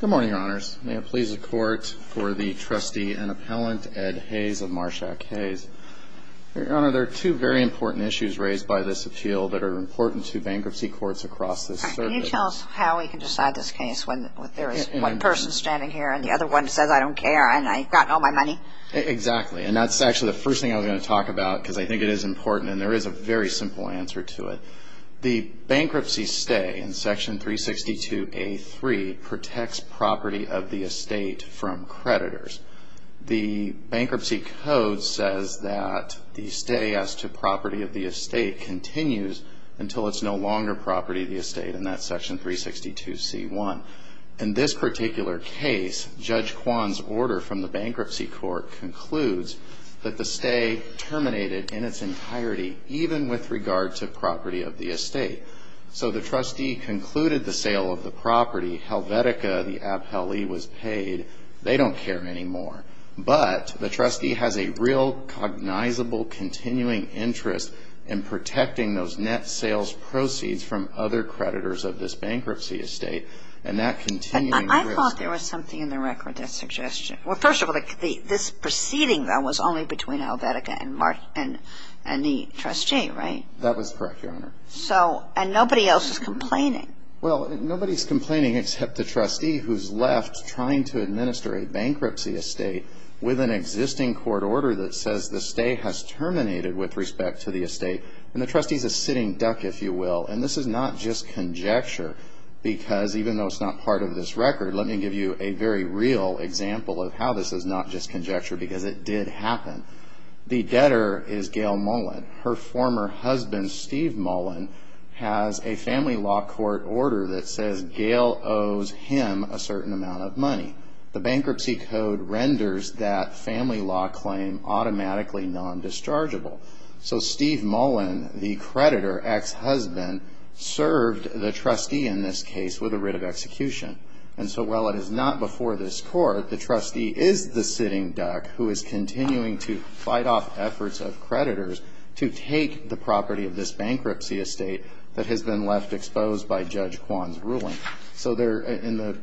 Good morning, Your Honors. May it please the Court for the trustee and appellant Ed Hayes of Marshack Hayes. Your Honor, there are two very important issues raised by this appeal that are important to bankruptcy courts across this circuit. Can you tell us how we can decide this case when there is one person standing here and the other one says I don't care and I've gotten all my money? Exactly. And that's actually the first thing I was going to talk about because I think it is important and there is a very simple answer to it. The bankruptcy stay in section 362A3 protects property of the estate from creditors. The bankruptcy code says that the stay as to property of the estate continues until it is no longer property of the estate and that is section 362C1. In this particular case, Judge Kwan's order from the bankruptcy court concludes that the stay terminated in its entirety even with regard to property of the estate. So the trustee concluded the sale of the property, Helvetica, the appellee was paid, they don't care anymore. But the trustee has a real cognizable continuing interest in protecting those net sales proceeds from other creditors of this bankruptcy estate. I thought there was something in the record that suggested, well, first of all, this proceeding was only between Helvetica and the trustee, right? That was correct, Your Honor. And nobody else is complaining? Well, nobody is complaining except the trustee who is left trying to administer a bankruptcy estate with an existing court order that says the stay has terminated with respect to the estate. And the trustee is a sitting duck, if you will. And this is not just conjecture because even though it's not part of this record, let me give you a very real example of how this is not just conjecture because it did happen. The debtor is Gail Mullen. Her former husband, Steve Mullen, has a family law court order that says Gail owes him a certain amount of money. The bankruptcy code renders that family law claim automatically non-dischargeable. So Steve Mullen, the creditor, ex-husband, served the trustee in this case with a writ of execution. And so while it is not before this court, the trustee is the sitting duck who is continuing to fight off efforts of creditors to take the property of this bankruptcy estate that has been left exposed by Judge Kwan's ruling. So in the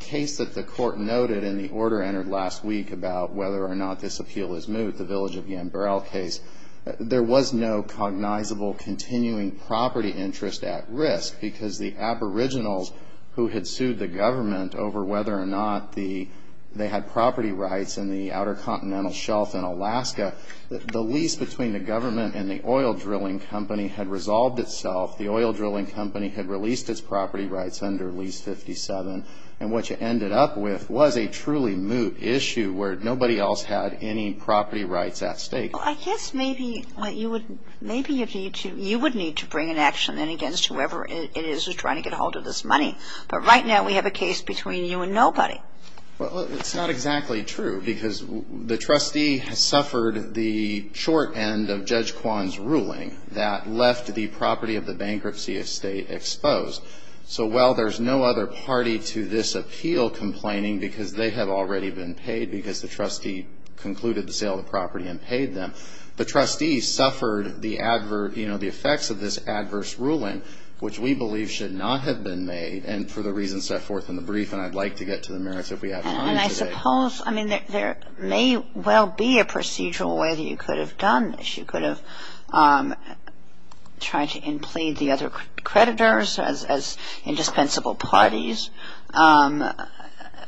case that the court noted in the order entered last week about whether or not this appeal is moot, the Village of Yambrell case, there was no cognizable continuing property interest at risk because the aboriginals who had sued the government over whether or not they had property rights in the Outer Continental Shelf in Alaska, the lease between the government and the oil drilling company had resolved itself. The oil drilling company had released its property rights under Lease 57. And what you ended up with was a truly moot issue where nobody else had any property rights at stake. Well, I guess maybe you would need to bring an action in against whoever it is who's trying to get a hold of this money. But right now we have a case between you and nobody. Well, it's not exactly true because the trustee has suffered the short end of Judge Kwan's ruling that left the property of the bankruptcy estate exposed. So while there's no other party to this appeal complaining because they have already been paid because the trustee concluded to sell the property and paid them, the trustee suffered the adverse, you know, the effects of this adverse ruling, which we believe should not have been made. And for the reasons set forth in the brief, and I'd like to get to the merits if we have time today. And I suppose, I mean, there may well be a procedural way that you could have done this. You could have tried to implead the other creditors as indispensable parties.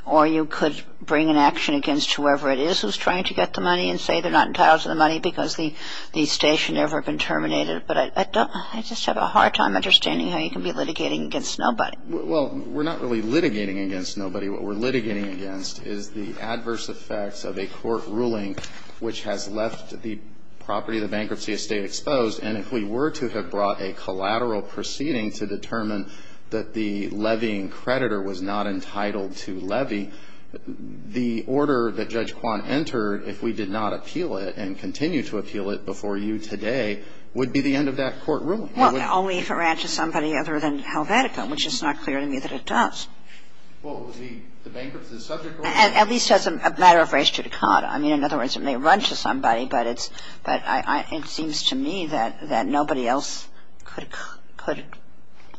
Or you could bring an action against whoever it is who's trying to get the money and say they're not entitled to the money because the estate should never have been terminated. But I just have a hard time understanding how you can be litigating against nobody. Well, we're not really litigating against nobody. What we're litigating against is the adverse effects of a court ruling which has left the property of the bankruptcy estate exposed. And if we were to have brought a collateral proceeding to determine that the levying creditor was not entitled to levy, the order that Judge Kwan entered, if we did not appeal it and continue to appeal it before you today, would be the end of that court ruling. Well, only if it ran to somebody other than Helvetica, which it's not clear to me that it does. Well, the bankruptcy is subject to a court ruling. At least as a matter of race to the caught. I mean, in other words, it may run to somebody, but it's – but it seems to me that nobody else could –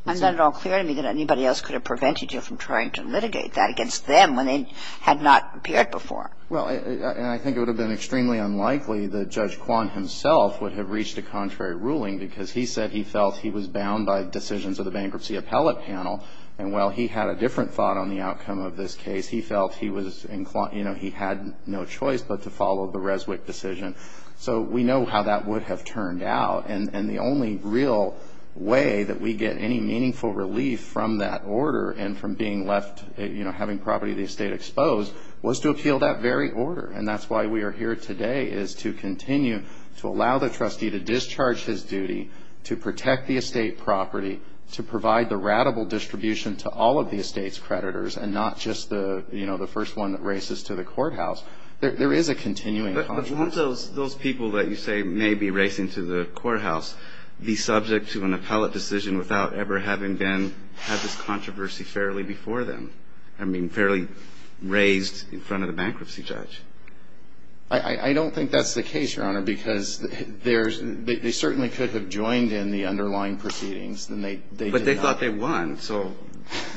I'm not at all clear to me that anybody else could have prevented you from trying to litigate that against them when they had not appeared before. Well, and I think it would have been extremely unlikely that Judge Kwan himself would have reached a contrary ruling because he said he felt he was bound by decisions of the bankruptcy appellate panel. And while he had a different thought on the outcome of this case, he felt he was – you know, he had no choice but to follow the Reswick decision. So we know how that would have turned out. And the only real way that we get any meaningful relief from that order and from being left – you know, having property of the estate exposed, was to appeal that very order. And that's why we are here today is to continue to allow the trustee to discharge his duty, to protect the estate property, to provide the routable distribution to all of the estate's creditors and not just the – you know, the first one that races to the courthouse. There is a continuing contract. But won't those people that you say may be racing to the courthouse be subject to an appellate decision without ever having been – had this controversy fairly before them? I mean, fairly raised in front of the bankruptcy judge. I don't think that's the case, Your Honor, because there's – they certainly could have joined in the underlying proceedings. But they thought they won, so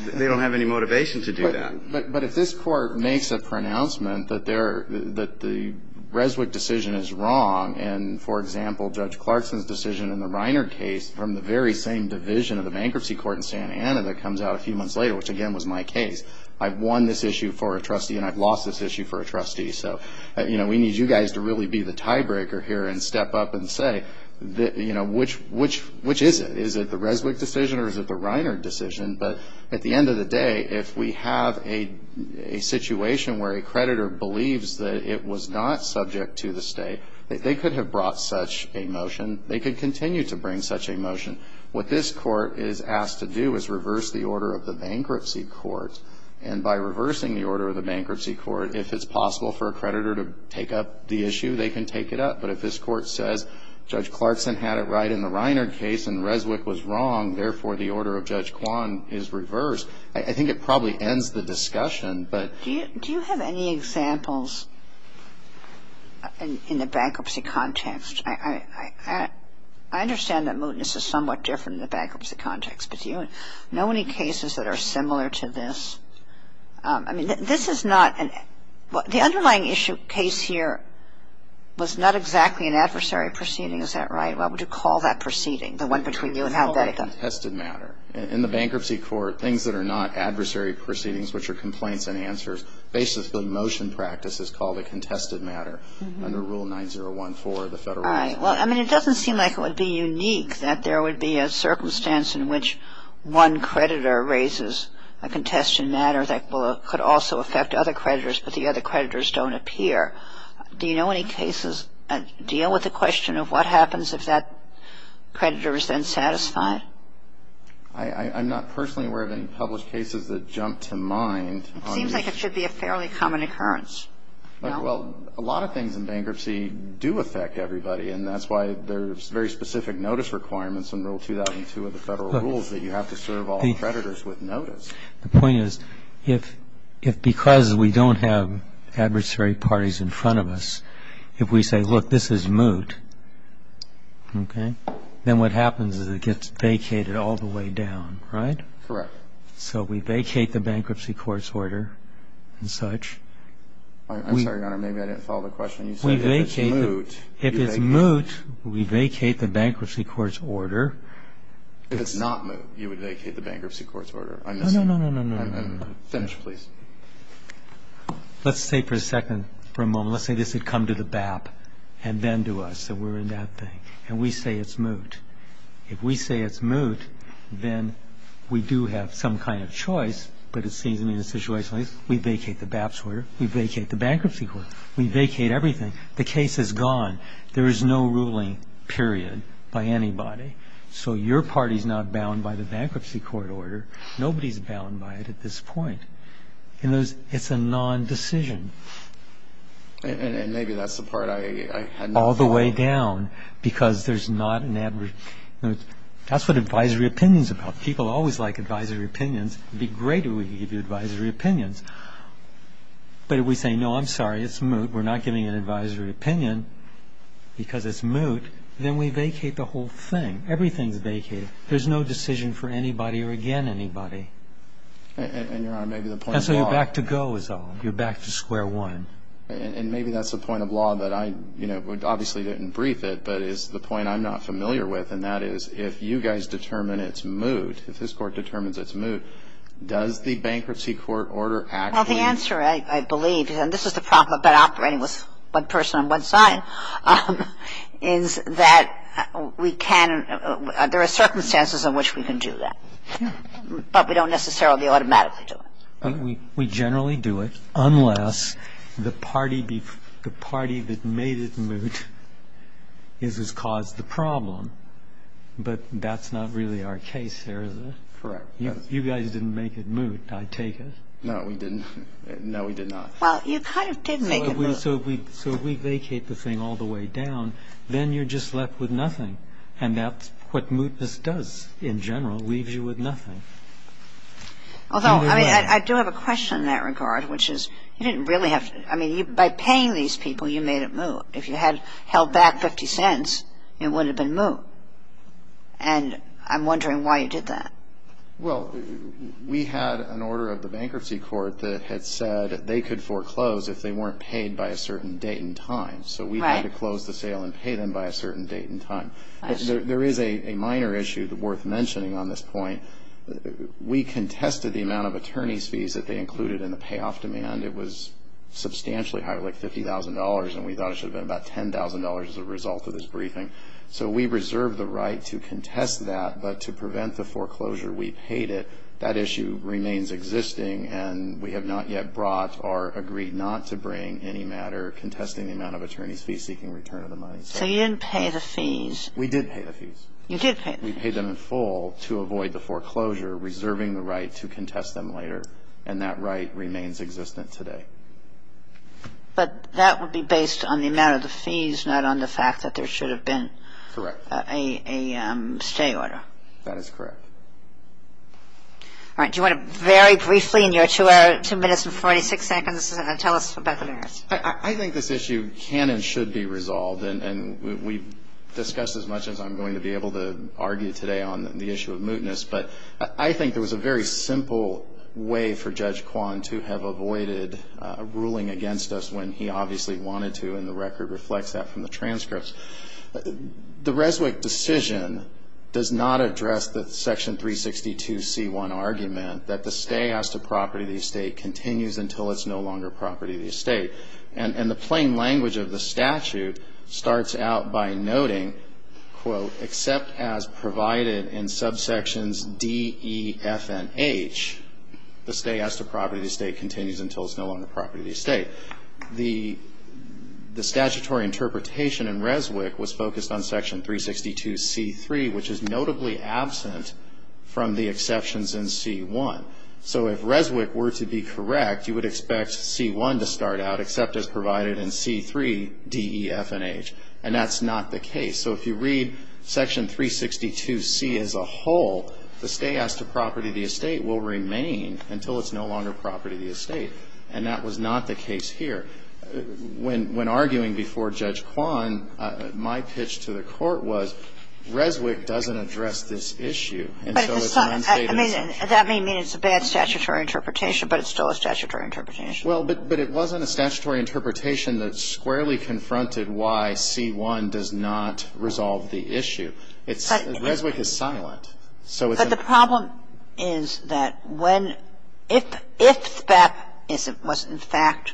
they don't have any motivation to do that. But if this court makes a pronouncement that they're – that the Reswick decision is wrong and, for example, Judge Clarkson's decision in the Reiner case from the very same division of the bankruptcy court in Santa Ana that comes out a few months later, which again was my case, I've won this issue for a trustee and I've lost this issue for a trustee. So, you know, we need you guys to really be the tiebreaker here and step up and say, you know, which is it? Is it the Reswick decision or is it the Reiner decision? But at the end of the day, if we have a situation where a creditor believes that it was not subject to the state, they could have brought such a motion. They could continue to bring such a motion. What this court is asked to do is reverse the order of the bankruptcy court. And by reversing the order of the bankruptcy court, if it's possible for a creditor to take up the issue, they can take it up. But if this court says Judge Clarkson had it right in the Reiner case and Reswick was wrong, therefore the order of Judge Kwan is reversed, I think it probably ends the discussion. But do you have any examples in the bankruptcy context? I understand that mootness is somewhat different in the bankruptcy context. But do you know any cases that are similar to this? I mean, this is not an – the underlying issue case here was not exactly an adversary proceeding. Is that right? What would you call that proceeding, the one between you and Helvetica? I would call it a contested matter. In the bankruptcy court, things that are not adversary proceedings, which are complaints and answers, basically motion practice is called a contested matter under Rule 9014 of the Federal Law. All right. Well, I mean, it doesn't seem like it would be unique that there would be a circumstance in which one creditor raises a contested matter that could also affect other creditors, but the other creditors don't appear. Do you know any cases that deal with the question of what happens if that creditor is then satisfied? I'm not personally aware of any published cases that jump to mind. It seems like it should be a fairly common occurrence. Well, a lot of things in bankruptcy do affect everybody, and that's why there's very specific notice requirements in Rule 2002 of the Federal Rules that you have to serve all creditors with notice. The point is, if because we don't have adversary parties in front of us, if we say, look, this is moot, okay, then what happens is it gets vacated all the way down, right? Correct. So we vacate the bankruptcy court's order and such. I'm sorry, Your Honor, maybe I didn't follow the question. You said if it's moot. If it's moot, we vacate the bankruptcy court's order. No, no, no, no, no, no. Finish, please. Let's say for a second, for a moment, let's say this had come to the BAP and then to us, that we're in that thing, and we say it's moot. If we say it's moot, then we do have some kind of choice, but it seems to me the situation is we vacate the BAP's order, we vacate the bankruptcy court, we vacate everything. The case is gone. There is no ruling, period, by anybody. So your party is not bound by the bankruptcy court order. Nobody is bound by it at this point. It's a non-decision. And maybe that's the part I had not thought of. All the way down because there's not an adverse. That's what advisory opinion is about. People always like advisory opinions. It would be great if we could give you advisory opinions. But if we say, no, I'm sorry, it's moot, we're not giving an advisory opinion because it's moot, then we vacate the whole thing. Everything is vacated. There's no decision for anybody or again anybody. And, Your Honor, maybe the point of law. And so you're back to go is all. You're back to square one. And maybe that's the point of law that I, you know, obviously didn't brief it, but it's the point I'm not familiar with, and that is if you guys determine it's moot, if this Court determines it's moot, does the bankruptcy court order actually? Well, the answer, I believe, and this is the problem about operating with one person on one side, is that we can, there are circumstances in which we can do that. But we don't necessarily automatically do it. We generally do it unless the party that made it moot is what's caused the problem. But that's not really our case here, is it? Correct. You guys didn't make it moot, I take it. No, we didn't. Well, you kind of did make it moot. So if we vacate the thing all the way down, then you're just left with nothing. And that's what mootness does in general, leaves you with nothing. Although, I mean, I do have a question in that regard, which is you didn't really have to, I mean, by paying these people, you made it moot. If you had held back 50 cents, it wouldn't have been moot. And I'm wondering why you did that. Well, we had an order of the bankruptcy court that had said they could foreclose if they weren't paid by a certain date and time. So we had to close the sale and pay them by a certain date and time. There is a minor issue worth mentioning on this point. We contested the amount of attorney's fees that they included in the payoff demand. It was substantially higher, like $50,000, and we thought it should have been about $10,000 as a result of this briefing. So we reserved the right to contest that, but to prevent the foreclosure, we paid it. That issue remains existing, and we have not yet brought or agreed not to bring any matter contesting the amount of attorney's fees seeking return of the money. So you didn't pay the fees. We did pay the fees. You did pay the fees. We paid them in full to avoid the foreclosure, reserving the right to contest them later. And that right remains existent today. But that would be based on the amount of the fees, not on the fact that there should have been a stay order. That is correct. All right. Do you want to very briefly in your two minutes and 46 seconds tell us about the merits? I think this issue can and should be resolved, and we've discussed as much as I'm going to be able to argue today on the issue of mootness. But I think there was a very simple way for Judge Kwan to have avoided a ruling against us when he obviously wanted to, and the record reflects that from the transcripts. The Reswick decision does not address the Section 362c1 argument that the stay as to property of the estate continues until it's no longer property of the estate. And the plain language of the statute starts out by noting, quote, except as provided in subsections D, E, F, and H, the stay as to property of the estate continues until it's no longer property of the estate. The statutory interpretation in Reswick was focused on Section 362c3, which is notably absent from the exceptions in c1. So if Reswick were to be correct, you would expect c1 to start out, except as provided in c3, D, E, F, and H. And that's not the case. So if you read Section 362c as a whole, the stay as to property of the estate will remain until it's no longer property of the estate. And that was not the case here. When arguing before Judge Kwan, my pitch to the Court was Reswick doesn't address this issue. And so it's not stated. Kagan. I mean, that may mean it's a bad statutory interpretation, but it's still a statutory interpretation. Well, but it wasn't a statutory interpretation that squarely confronted why c1 does not resolve the issue. Reswick is silent. But the problem is that when, if that was in fact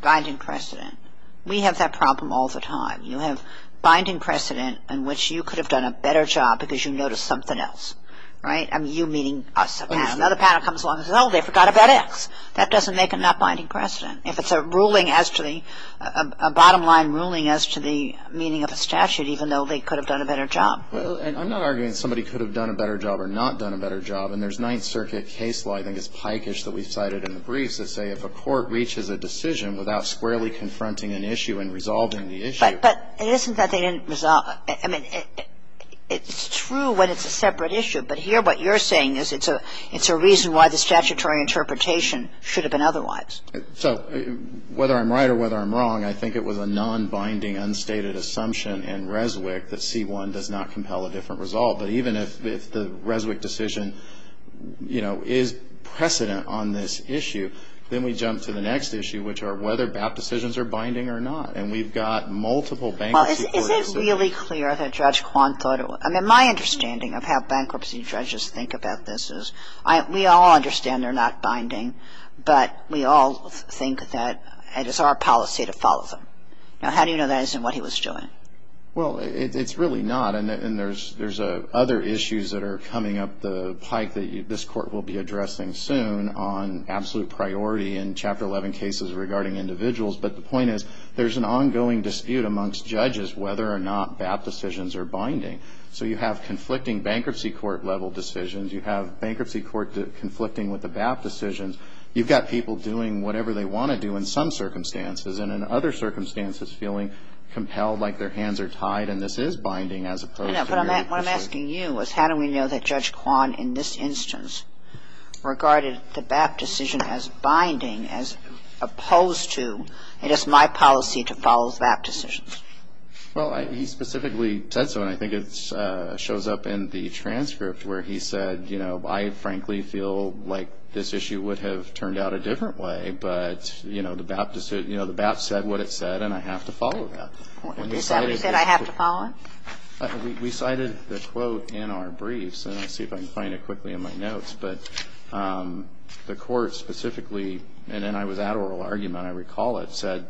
binding precedent, we have that problem all the time. You have binding precedent in which you could have done a better job because you noticed something else. Right? I mean, you meaning us. Another panel comes along and says, oh, they forgot about X. That doesn't make a not binding precedent. If it's a ruling as to the, a bottom line ruling as to the meaning of a statute, even though they could have done a better job. Well, and I'm not arguing somebody could have done a better job or not done a better job. And there's Ninth Circuit case law, I think it's pikeish, that we cited in the briefs that say if a court reaches a decision without squarely confronting an issue and resolving the issue. But it isn't that they didn't resolve. I mean, it's true when it's a separate issue. But here what you're saying is it's a reason why the statutory interpretation should have been otherwise. So whether I'm right or whether I'm wrong, I think it was a nonbinding unstated assumption in Reswick that c1 does not compel a different resolve. But even if the Reswick decision, you know, is precedent on this issue, then we jump to the next issue, which are whether BAP decisions are binding or not. And we've got multiple bankruptcy orders. Well, is it really clear that Judge Kwan thought it was? I mean, my understanding of how bankruptcy judges think about this is we all understand they're not binding. But we all think that it is our policy to follow them. Now, how do you know that isn't what he was doing? Well, it's really not. And there's other issues that are coming up the pike that this Court will be addressing soon on absolute priority in Chapter 11 cases regarding individuals. But the point is there's an ongoing dispute amongst judges whether or not BAP decisions are binding. So you have conflicting bankruptcy court-level decisions. You have bankruptcy court conflicting with the BAP decisions. You've got people doing whatever they want to do in some circumstances and in other circumstances feeling compelled like their hands are tied and this is binding as opposed to their interest. No, but what I'm asking you is how do we know that Judge Kwan in this instance regarded the BAP decision as binding as opposed to it is my policy to follow BAP decisions? Well, he specifically said so. And I think it shows up in the transcript where he said, you know, I frankly feel like this issue would have turned out a different way. But, you know, the BAP said what it said and I have to follow that. He said I have to follow it? We cited the quote in our briefs. And I'll see if I can find it quickly in my notes. But the Court specifically, and then I was at oral argument, I recall it, said,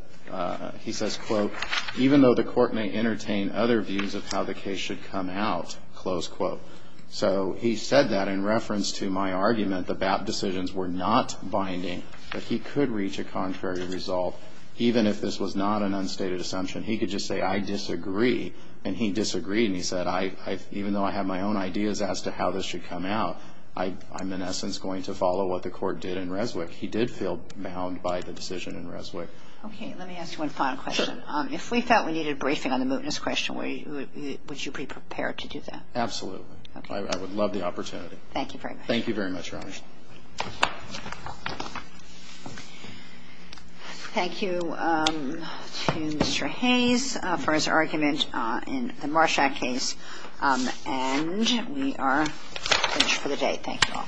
he says, quote, even though the Court may entertain other views of how the case should come out, close quote. So he said that in reference to my argument, the BAP decisions were not binding. But he could reach a contrary result even if this was not an unstated assumption. He could just say I disagree. And he disagreed and he said even though I have my own ideas as to how this should come out, I'm in essence going to follow what the Court did in Reswick. He did feel bound by the decision in Reswick. Okay, let me ask you one final question. Sure. If we felt we needed a briefing on the mootness question, would you be prepared to do that? Absolutely. Okay. I would love the opportunity. Thank you very much. Thank you very much, Your Honor. Thank you to Mr. Hayes for his argument in the Marshak case. And we are finished for the day. Thank you all.